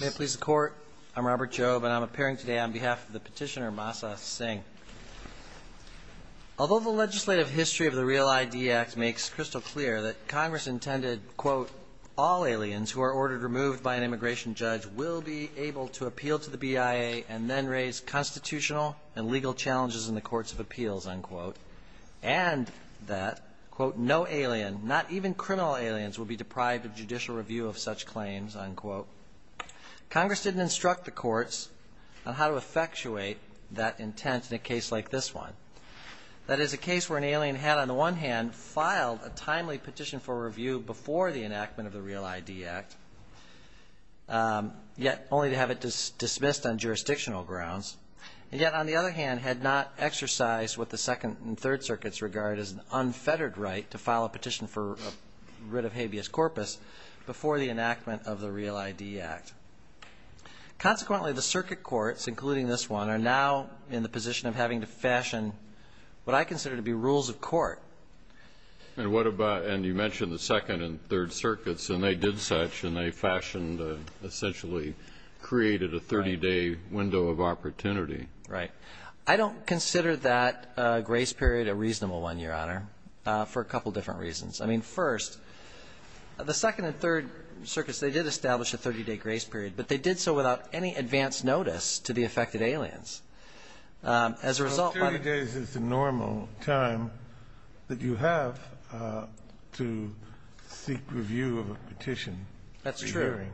May it please the court, I'm Robert Jobe and I'm appearing today on behalf of the petitioner Masa Singh. Although the legislative history of the REAL-ID Act makes crystal clear that Congress intended, quote, all aliens who are ordered removed by an immigration judge will be able to appeal to the BIA and then raise constitutional and legal challenges in the future, quote, no alien, not even criminal aliens will be deprived of judicial review of such claims, unquote. Congress didn't instruct the courts on how to effectuate that intent in a case like this one. That is a case where an alien had, on the one hand, filed a timely petition for review before the enactment of the REAL-ID Act, yet only to have it dismissed on jurisdictional grounds, and yet on the other hand had not exercised what the Second and Third Circuits regard as an unfettered right to file a petition for a writ of habeas corpus before the enactment of the REAL-ID Act. Consequently, the circuit courts, including this one, are now in the position of having to fashion what I consider to be rules of court. And what about, and you mentioned the Second and Third Circuits, and they did such and they fashioned, essentially created a 30-day window of opportunity. Right. I don't consider that grace period a reasonable one, Your Honor, for a couple of different reasons. I mean, first, the Second and Third Circuits, they did establish a 30-day grace period, but they did so without any advance notice to the affected aliens. As a result, by the So 30 days is the normal time that you have to seek review of a petition. That's true.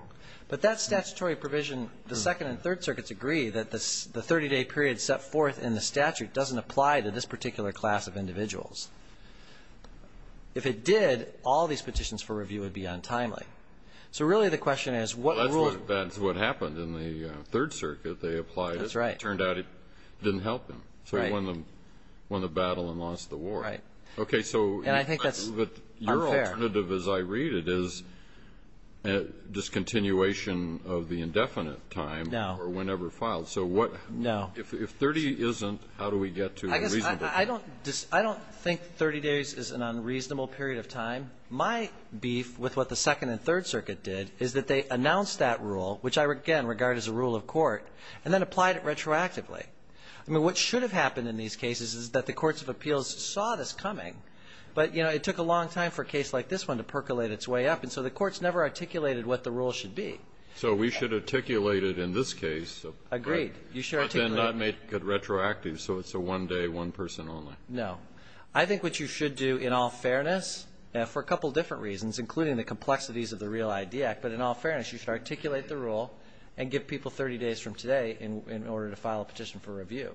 But that statutory provision, the Second and Third Circuits agree that the 30-day period set forth in the statute doesn't apply to this particular class of individuals. If it did, all these petitions for review would be untimely. So really the question is, what rule That's what happened in the Third Circuit. They applied it. That's right. Turned out it didn't help them. So they won the battle and lost the war. Right. Okay. So And I think that's Your alternative, as I read it, is discontinuation of the indefinite time No. So if 30 isn't, how do we get to a reasonable I don't think 30 days is an unreasonable period of time. My beef with what the Second and Third Circuit did is that they announced that rule, which I, again, regard as a rule of court, and then applied it retroactively. I mean, what should have happened in these cases is that the courts of appeals saw this coming, but, you know, it took a long time for a case like this one to percolate its way up. And so the courts never articulated what the rule should be. So we should articulate it in this case Agreed. You should articulate But then not make it retroactive so it's a one-day, one-person only. No. I think what you should do, in all fairness, for a couple different reasons, including the complexities of the Real ID Act, but in all fairness, you should articulate the rule and give people 30 days from today in order to file a petition for review.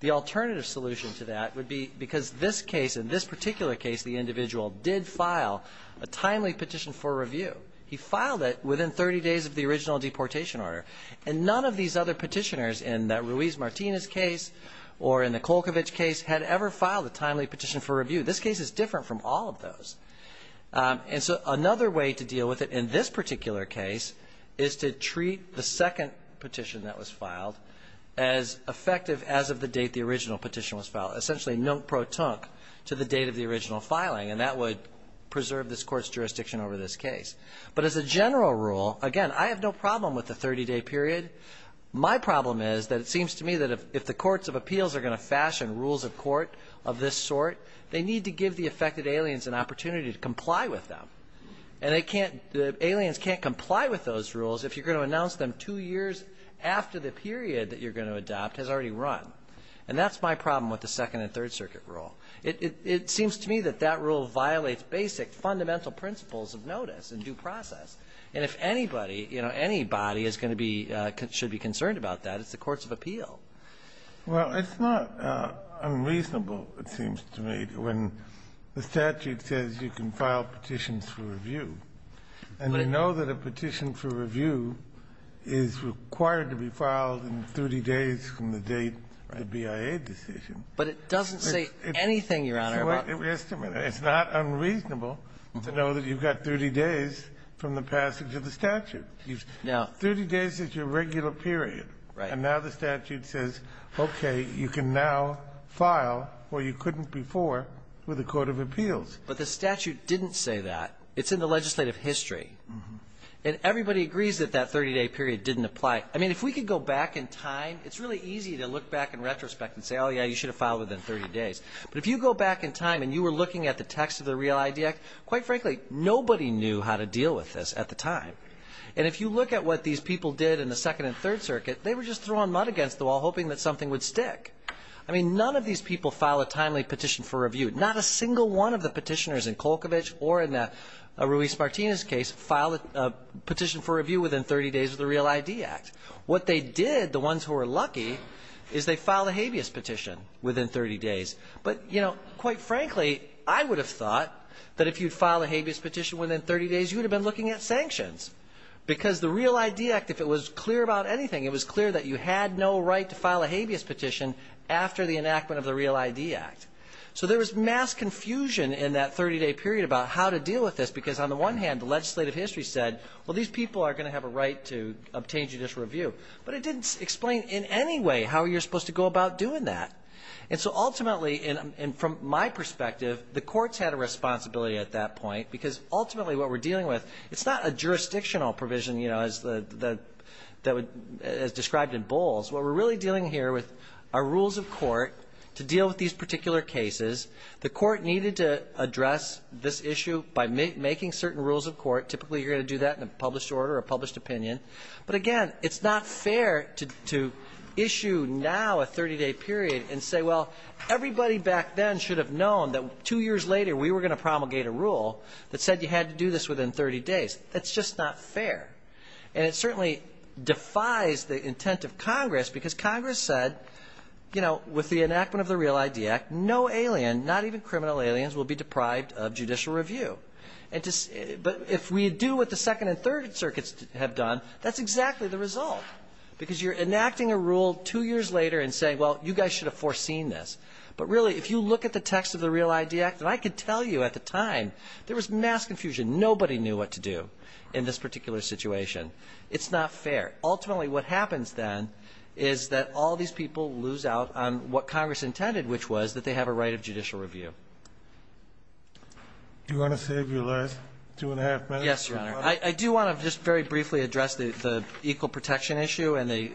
The alternative solution to that would be because this case, in this particular case, the individual did file a timely petition for review. He filed it within 30 days of the original deportation order. And none of these other petitioners in the Ruiz-Martinez case or in the Kolkovich case had ever filed a timely petition for review. This case is different from all of those. And so another way to deal with it in this particular case is to treat the second petition that was filed as effective as of the date the original petition was filed, essentially non-protonque, to the date of the original filing. And that would preserve this court's jurisdiction over this case. But as a general rule, again, I have no problem with the 30-day period. My problem is that it seems to me that if the courts of appeals are going to fashion rules of court of this sort, they need to give the affected aliens an opportunity to comply with them. And they can't, the aliens can't comply with those rules if you're going to announce them two years after the period that you're going to second and third circuit rule. It seems to me that that rule violates basic fundamental principles of notice and due process. And if anybody, you know, anybody is going to be concerned about that, it's the courts of appeal. Kennedy. Well, it's not unreasonable, it seems to me, when the statute says you can file petitions for review. And you know that a petition for review is required to be filed in 30 days from the date of the BIA decision. But it doesn't say anything, Your Honor, about the 30-day period. It's not unreasonable to know that you've got 30 days from the passage of the statute. Now, 30 days is your regular period. Right. And now the statute says, okay, you can now file where you couldn't before with the court of appeals. But the statute didn't say that. It's in the legislative history. And everybody agrees that that 30-day period didn't apply. I mean, if we could go back in time, it's really easy to look back in retrospect and say, oh, yeah, you should have filed within 30 days. But if you go back in time and you were looking at the text of the REAL-ID Act, quite frankly, nobody knew how to deal with this at the time. And if you look at what these people did in the Second and Third Circuit, they were just throwing mud against the wall, hoping that something would stick. I mean, none of these people file a timely petition for review. Not a single one of the petitioners in Kolkovich or in Ruiz-Martinez's case filed a petition for review within 30 days of the REAL-ID Act. What they did, the ones who were lucky, is they filed a habeas petition within 30 days. But you know, quite frankly, I would have thought that if you'd filed a habeas petition within 30 days, you would have been looking at sanctions. Because the REAL-ID Act, if it was clear about anything, it was clear that you had no right to file a habeas petition after the enactment of the REAL-ID Act. So there was mass confusion in that 30-day period about how to deal with this. Because on the one hand, the legislative history said, well, these people are going to have a right to obtain judicial review. But it didn't explain in any way how you're supposed to go about doing that. And so ultimately, and from my perspective, the courts had a responsibility at that point. Because ultimately what we're dealing with, it's not a jurisdictional provision, you know, as described in Bowles. What we're really dealing here with are rules of court to deal with these particular cases. Typically you're going to do that in a published order or a published opinion. But again, it's not fair to issue now a 30-day period and say, well, everybody back then should have known that two years later we were going to promulgate a rule that said you had to do this within 30 days. That's just not fair. And it certainly defies the intent of Congress. Because Congress said, you know, with the enactment of the REAL-ID Act, no alien, not even criminal aliens, will be deprived of judicial review. But if we do what the Second and Third Circuits have done, that's exactly the result. Because you're enacting a rule two years later and saying, well, you guys should have foreseen this. But really, if you look at the text of the REAL-ID Act, and I can tell you at the time there was mass confusion. Nobody knew what to do in this particular situation. It's not fair. Ultimately what happens then is that all these people lose out on what Congress intended, which was that they have a right of judicial review. Do you want to save your last two and a half minutes? Yes, Your Honor. I do want to just very briefly address the equal protection issue and the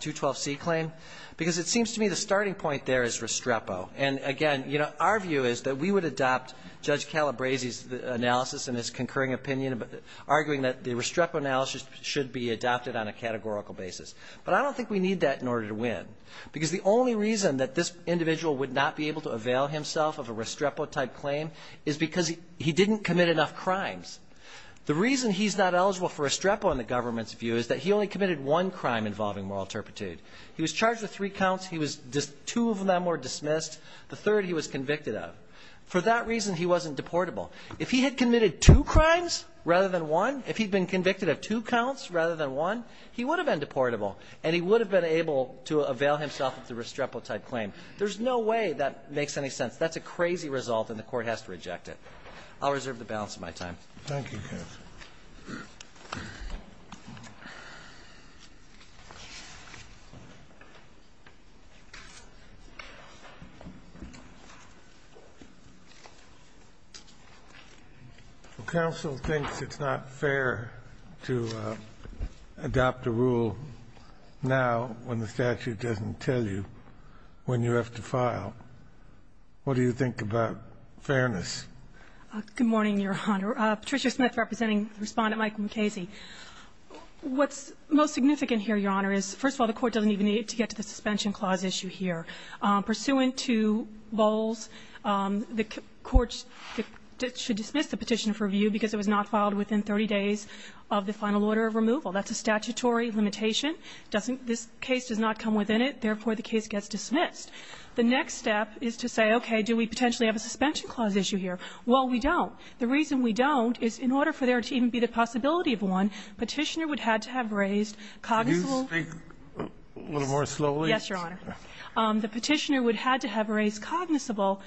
212C claim. Because it seems to me the starting point there is Restrepo. And again, you know, our view is that we would adopt Judge Calabresi's analysis and his concurring opinion, arguing that the Restrepo analysis should be adopted on a categorical basis. But I don't think we need that in order to win. Because the only reason that this individual would not be able to avail himself of a Restrepo-type claim is because he didn't commit enough crimes. The reason he's not eligible for Restrepo in the government's view is that he only committed one crime involving moral turpitude. He was charged with three counts. He was just, two of them were dismissed. The third he was convicted of. For that reason, he wasn't deportable. If he had committed two crimes rather than one, if he'd been convicted of two counts rather than one, he would have been deportable. And he would have been able to avail himself of the Restrepo-type claim. There's no way that makes any sense. That's a crazy result, and the Court has to reject it. I'll reserve the balance of my time. Kennedy. Well, counsel thinks it's not fair to adopt a rule now when the statute doesn't tell you when you have to file. What do you think about fairness? Good morning, Your Honor. Patricia Smith representing Respondent Michael McKayse. What's most significant here, Your Honor, is, first of all, the Court doesn't even need to get to the suspension clause issue here. Pursuant to Bowles, the Court should dismiss the petition for review because it was not filed within 30 days of the final order of removal. That's a statutory limitation. This case does not come within it. Therefore, the case gets dismissed. The next step is to say, okay, do we potentially have a suspension clause issue here? Well, we don't. The reason we don't is in order for there to even be the possibility of one, Petitioner would have to have raised cognizant of the legal claims. The Petitioner would have to have raised cognizant of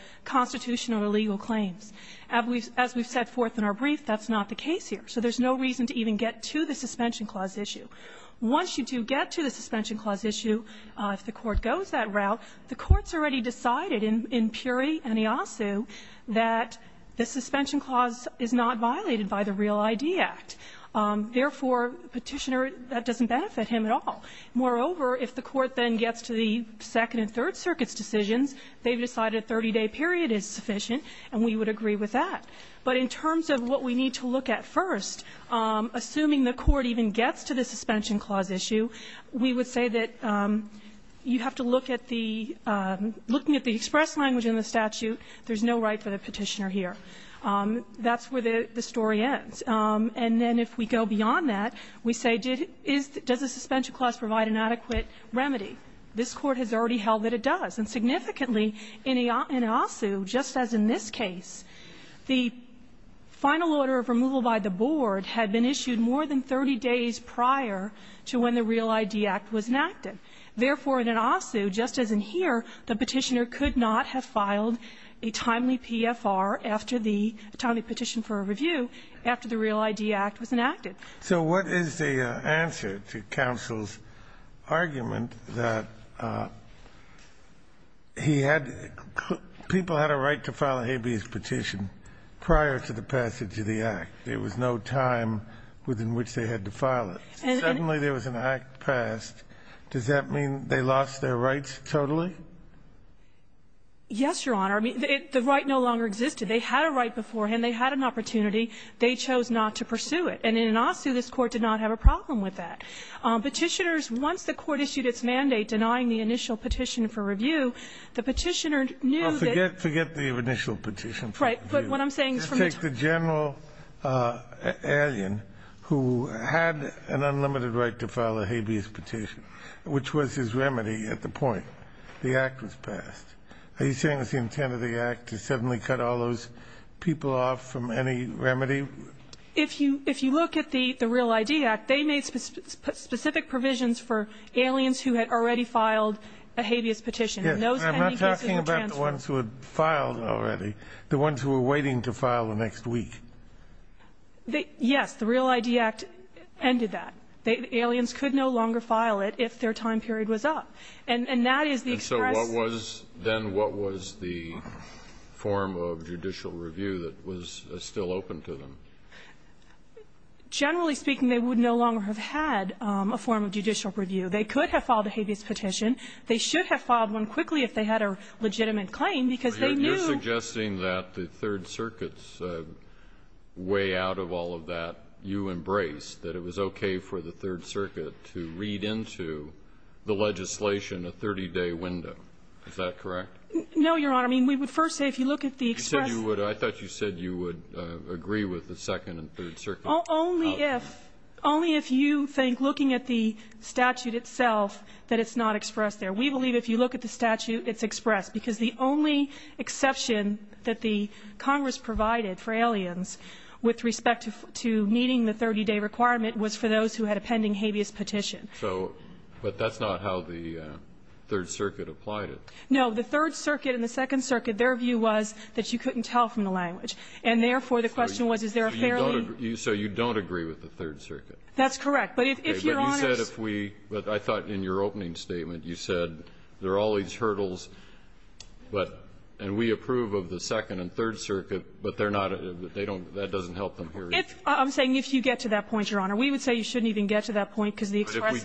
the legal claims. As we've set forth in our brief, that's not the case here. So there's no reason to even get to the suspension clause issue. The Court's already decided in Puri and Iasu that the suspension clause is not violated by the Real ID Act. Therefore, Petitioner, that doesn't benefit him at all. Moreover, if the Court then gets to the Second and Third Circuits' decisions, they've decided a 30-day period is sufficient, and we would agree with that. But in terms of what we need to look at first, assuming the Court even gets to the looking at the express language in the statute, there's no right for the Petitioner here. That's where the story ends. And then if we go beyond that, we say, does the suspension clause provide an adequate remedy? This Court has already held that it does. And significantly, in Iasu, just as in this case, the final order of removal by the board had been issued more than 30 days prior to when the Real ID Act was enacted. Therefore, in Iasu, just as in here, the Petitioner could not have filed a timely PFR after the timely petition for a review after the Real ID Act was enacted. So what is the answer to counsel's argument that he had to – people had a right to file a habeas petition prior to the passage of the Act? There was no time within which they had to file it. And suddenly there was an act passed. Does that mean they lost their rights totally? Yes, Your Honor. I mean, the right no longer existed. They had a right beforehand. They had an opportunity. They chose not to pursue it. And in Iasu, this Court did not have a problem with that. Petitioners, once the Court issued its mandate denying the initial petition for review, Well, forget the initial petition for review. Right. He had an unlimited right to file a habeas petition, which was his remedy at the point the Act was passed. Are you saying it was the intent of the Act to suddenly cut all those people off from any remedy? If you look at the Real ID Act, they made specific provisions for aliens who had already filed a habeas petition. And those 10 cases were transferred. I'm not talking about the ones who had filed already, the ones who were waiting to file the next week. Yes, the Real ID Act ended that. Aliens could no longer file it if their time period was up. And that is the express And so what was then what was the form of judicial review that was still open to them? Generally speaking, they would no longer have had a form of judicial review. They could have filed a habeas petition. They should have filed one quickly if they had a legitimate claim, because they knew You're suggesting that the Third Circuit's way out of all of that, you embraced, that it was okay for the Third Circuit to read into the legislation a 30-day window. Is that correct? No, Your Honor. I mean, we would first say if you look at the express I thought you said you would agree with the Second and Third Circuit only if only if you think looking at the statute itself, that it's not expressed there. We believe if you look at the statute, it's expressed because the only exception that the Congress provided for aliens with respect to meeting the 30-day requirement was for those who had a pending habeas petition. So, but that's not how the Third Circuit applied it. No, the Third Circuit and the Second Circuit, their view was that you couldn't tell from the language. And therefore, the question was, is there a fairly So you don't agree with the Third Circuit? That's correct. But if you're honest But you said if we, but I thought in your opening statement, you said there are all these hurdles, but, and we approve of the Second and Third Circuit, but they're not, they don't, that doesn't help them here. If, I'm saying if you get to that point, Your Honor, we would say you shouldn't even get to that point, because the express But if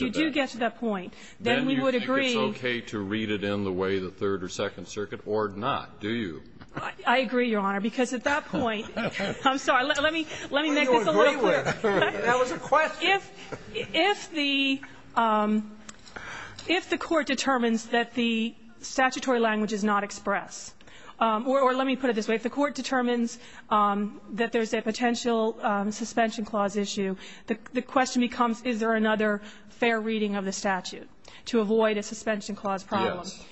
we do get to that point, then we would agree. Then you think it's okay to read it in the way of the Third or Second Circuit or not, do you? I agree, Your Honor, because at that point, I'm sorry, let me, let me make this a little clearer. That was a question. If, if the, if the Court determines that the statutory language is not expressed, or let me put it this way. If the Court determines that there's a potential suspension clause issue, the question becomes, is there another fair reading of the statute to avoid a suspension clause problem? Yes.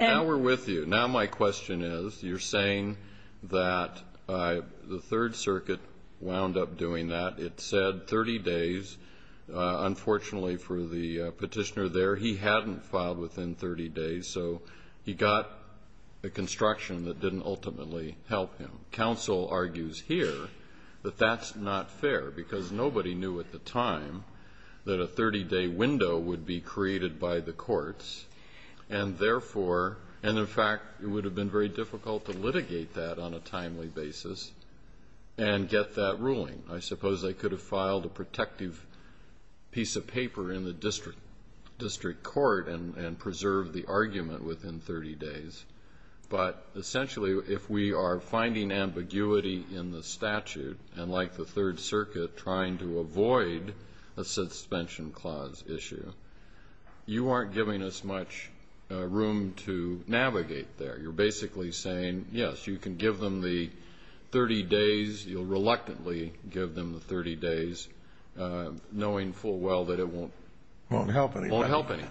Now we're with you. Now my question is, you're saying that the Third Circuit wound up doing that. It said 30 days. Unfortunately for the petitioner there, he hadn't filed within 30 days, so he got a construction that didn't ultimately help him. Counsel argues here that that's not fair, because nobody knew at the time that a 30 day window would be created by the courts, and therefore, and in fact, it would have been very difficult to litigate that on a timely basis and get that ruling. I suppose they could have filed a protective piece of paper in the district, district court, and, and preserved the argument within 30 days, but essentially, if we are finding ambiguity in the statute, and like the Third Circuit trying to avoid a suspension clause issue, you aren't giving us much room to navigate there. You're basically saying, yes, you can give them the 30 days. You'll reluctantly give them the 30 days, knowing full well that it won't help anybody.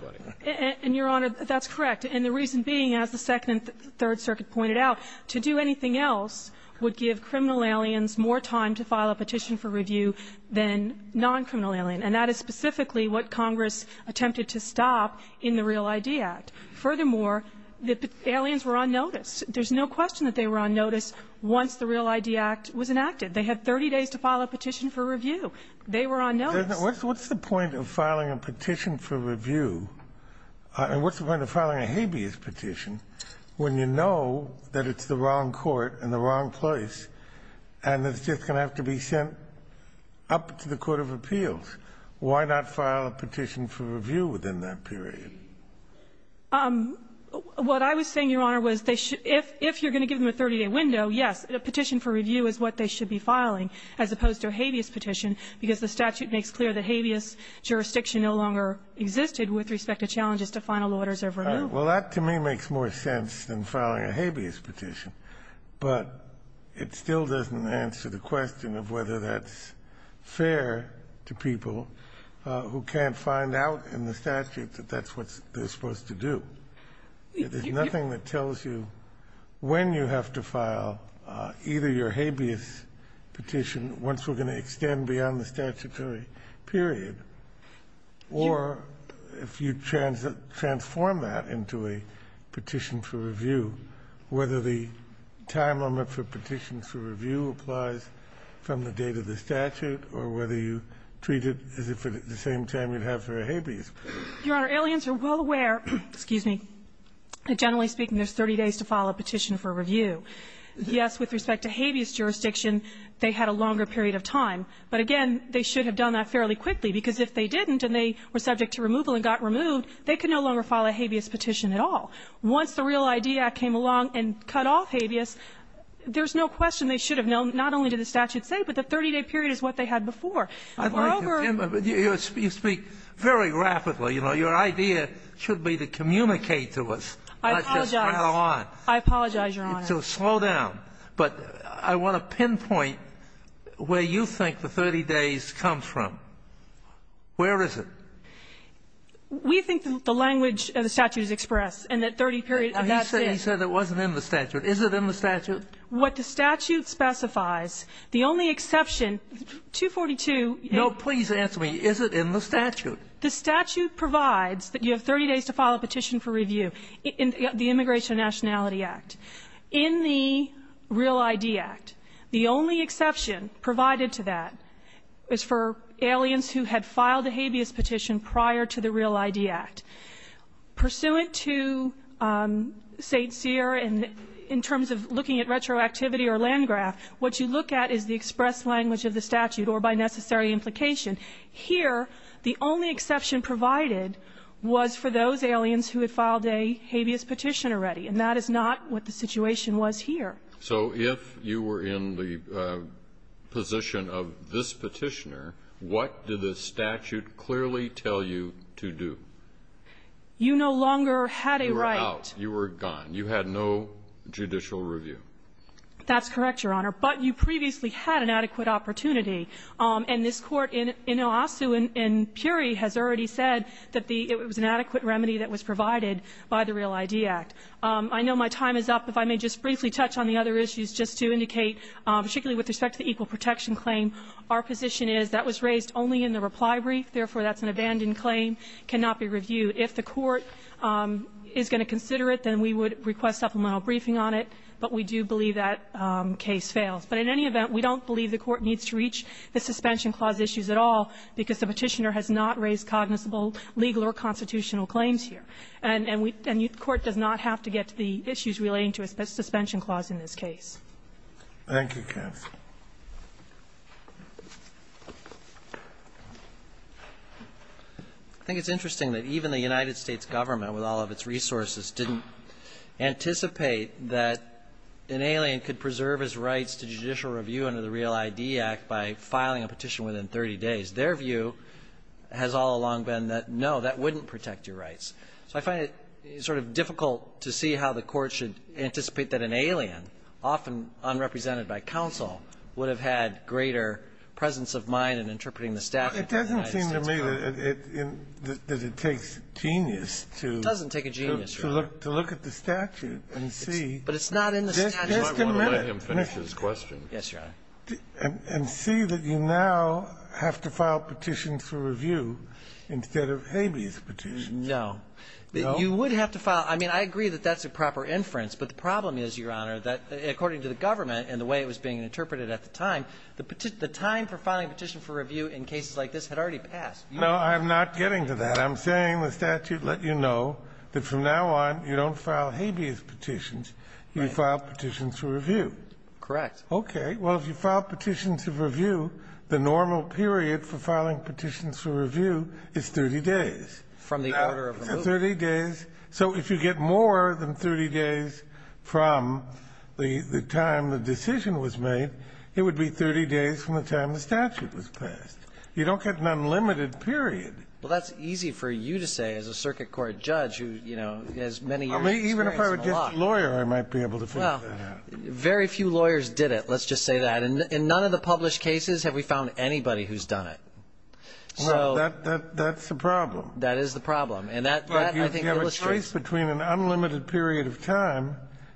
And, Your Honor, that's correct. And the reason being, as the Second and Third Circuit pointed out, to do anything else would give criminal aliens more time to file a petition for review than non-criminal alien, and that is specifically what Congress attempted to stop in the Real ID Act. Furthermore, the aliens were on notice. There's no question that they were on notice once the Real ID Act was enacted. They had 30 days to file a petition for review. They were on notice. Kennedy. What's the point of filing a petition for review, and what's the point of filing a habeas petition when you know that it's the wrong court in the wrong place and it's just going to have to be sent up to the court of appeals? Why not file a petition for review within that period? What I was saying, Your Honor, was they should – if you're going to give them a 30-day window, yes, a petition for review is what they should be filing, as opposed to a habeas petition, because the statute makes clear that habeas jurisdiction no longer existed with respect to challenges to final orders of removal. Well, that to me makes more sense than filing a habeas petition, but it still doesn't answer the question of whether that's fair to people who can't find out in the statute that that's what they're supposed to do. There's nothing that tells you when you have to file either your habeas petition once we're going to extend beyond the statutory period, or if you transform that into a petition for review, whether the time limit for petitions for review applies from the date of the statute or whether you treat it as if at the same time you'd have for a habeas. Your Honor, aliens are well aware – excuse me – that generally speaking, there's 30 days to file a petition for review. Yes, with respect to habeas jurisdiction, they had a longer period of time, but again, they should have done that fairly quickly, because if they didn't and they were subject to removal and got removed, they could no longer file a habeas petition at all. Once the REAL ID Act came along and cut off habeas, there's no question they should have known not only did the statute say, but the 30-day period is what they had before. I'd like to – you speak very rapidly. You know, your idea should be to communicate to us, not just rattle on. I apologize, Your Honor. So slow down. But I want to pinpoint where you think the 30 days comes from. Where is it? We think the language of the statute is expressed, and that 30 period – He said it wasn't in the statute. Is it in the statute? What the statute specifies, the only exception – 242 – No, please answer me. Is it in the statute? The statute provides that you have 30 days to file a petition for review in the Immigration and Nationality Act. In the REAL ID Act, the only exception provided to that is for aliens who had filed a habeas petition prior to the REAL ID Act. Pursuant to St. Cyr, in terms of looking at retroactivity or land graph, what you look at is the expressed language of the statute or by necessary implication. Here, the only exception provided was for those aliens who had filed a habeas petition already, and that is not what the situation was here. So if you were in the position of this petitioner, what did the statute clearly tell you to do? You no longer had a right – You were out. You were gone. You had no judicial review. That's correct, Your Honor. But you previously had an adequate opportunity. And this Court in Oasu and Puri has already said that it was an adequate remedy that was provided by the REAL ID Act. I know my time is up. If I may just briefly touch on the other issues just to indicate, particularly with respect to the equal protection claim, our position is that was raised only in the reply brief. Therefore, that's an abandoned claim, cannot be reviewed. If the Court is going to consider it, then we would request supplemental briefing on it. But we do believe that case fails. But in any event, we don't believe the Court needs to reach the suspension clause issues at all, because the petitioner has not raised cognizable legal or constitutional claims here. And we – and the Court does not have to get to the issues relating to a suspension clause in this case. Thank you, Kath. I think it's interesting that even the United States government, with all of its resources, didn't anticipate that an alien could preserve his rights to judicial review under the REAL ID Act by filing a petition within 30 days. Their view has all along been that, no, that wouldn't protect your rights. So I find it sort of difficult to see how the Court should anticipate that an alien, often unrepresented by counsel, would have had greater presence of mind in interpreting the statute than the United States government. It doesn't seem to me that it takes genius to – It doesn't take a genius, Your Honor. To look at the statute and see – But it's not in the statute. You might want to let him finish his question. Yes, Your Honor. And see that you now have to file petitions for review instead of habeas petitions. No. You would have to file – I mean, I agree that that's a proper inference. But the problem is, Your Honor, that according to the government and the way it was being interpreted at the time, the time for filing a petition for review in cases like this had already passed. No, I'm not getting to that. I'm saying the statute let you know that from now on you don't file habeas petitions. You file petitions for review. Correct. Okay. Well, if you file petitions for review, the normal period for filing petitions for review is 30 days. From the order of removal. 30 days. So if you get more than 30 days from the time the decision was made, it would be 30 days from the time the statute was passed. You don't get an unlimited period. Well, that's easy for you to say as a circuit court judge who, you know, has many years of experience and a lot. Even if I were just a lawyer, I might be able to figure that out. Well, very few lawyers did it, let's just say that. In none of the published cases have we found anybody who's done it. Well, that's the problem. That is the problem. And that, I think, illustrates. But you have a choice between an unlimited period of time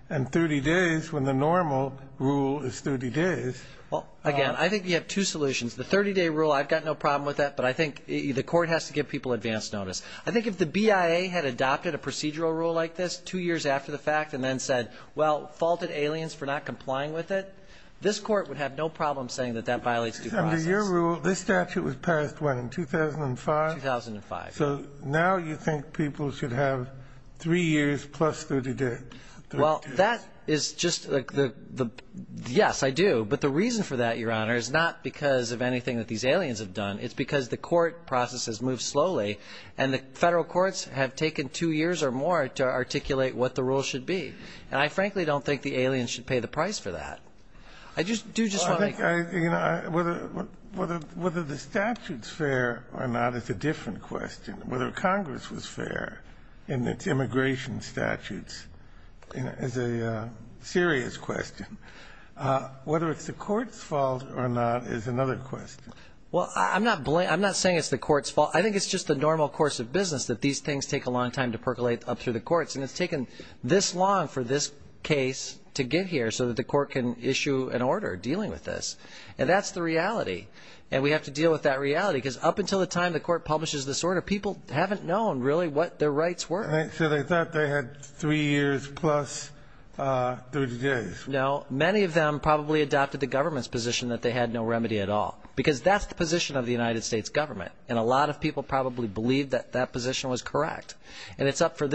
and 30 days when the normal rule is 30 days. Well, again, I think you have two solutions. The 30-day rule, I've got no problem with that, but I think the Court has to give people advance notice. I think if the BIA had adopted a procedural rule like this two years after the fact and then said, well, faulted aliens for not complying with it, this Court would have no problem saying that that violates due process. Under your rule, this statute was passed, what, in 2005? 2005. So now you think people should have three years plus 30 days. Well, that is just the ñ yes, I do. But the reason for that, Your Honor, is not because of anything that these aliens have done. It's because the court process has moved slowly, and the Federal courts have taken two years or more to articulate what the rule should be. And I frankly don't think the aliens should pay the price for that. I do just want to make ñ whether the statute's fair or not is a different question. Whether Congress was fair in its immigration statutes is a serious question. Whether it's the court's fault or not is another question. Well, I'm not saying it's the court's fault. I think it's just the normal course of business that these things take a long time to percolate up through the courts. And it's taken this long for this case to get here so that the court can issue an And that's the reality. And we have to deal with that reality because up until the time the court publishes this order, people haven't known really what their rights were. So they thought they had three years plus 30 days. No, many of them probably adopted the government's position that they had no remedy at all because that's the position of the United States government. And a lot of people probably believe that that position was correct. And it's up to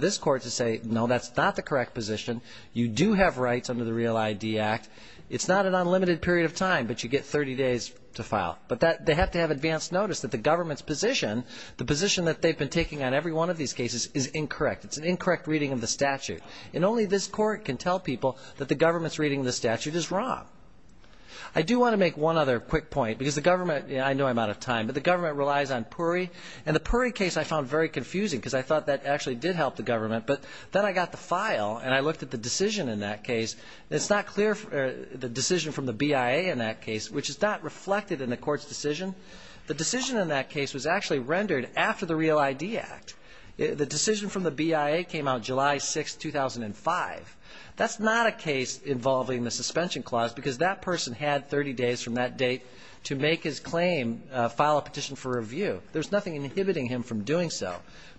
this court to say, no, that's not the correct position. You do have rights under the REAL ID Act. It's not an unlimited period of time, but you get 30 days to file. But they have to have advance notice that the government's position, the position that they've been taking on every one of these cases, is incorrect. It's an incorrect reading of the statute. And only this court can tell people that the government's reading of the statute is wrong. I do want to make one other quick point because the government, I know I'm out of time, but the government relies on PURI. And the PURI case I found very confusing because I thought that actually did help the government. But then I got the file and I looked at the decision in that case. And it's not clear the decision from the BIA in that case, which is not reflected in the court's decision. The decision in that case was actually rendered after the REAL ID Act. The decision from the BIA came out July 6, 2005. That's not a case involving the suspension clause because that person had 30 days from that date to make his claim, file a petition for review. There's nothing inhibiting him from doing so.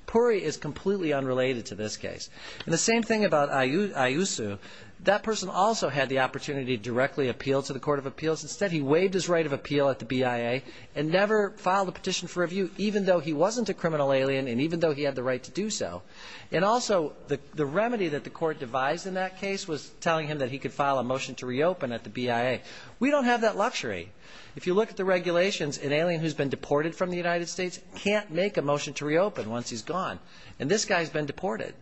PURI is completely unrelated to this case. And the same thing about Iusu. That person also had the opportunity to directly appeal to the Court of Appeals. Instead, he waived his right of appeal at the BIA and never filed a petition for review, even though he wasn't a criminal alien and even though he had the right to do so. And also the remedy that the court devised in that case was telling him that he could file a motion to reopen at the BIA. We don't have that luxury. If you look at the regulations, an alien who's been deported from the United States can't make a motion to reopen once he's gone. And this guy's been deported.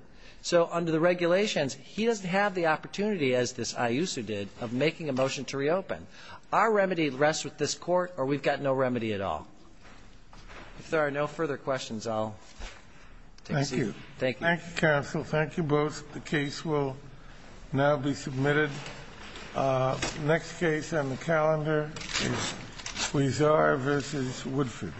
So under the regulations, he doesn't have the opportunity, as this Iusu did, of making a motion to reopen. Our remedy rests with this court, or we've got no remedy at all. If there are no further questions, I'll take a seat. Thank you. Thank you, counsel. Thank you both. The case will now be submitted. The next case on the calendar is Huizar v. Woodford.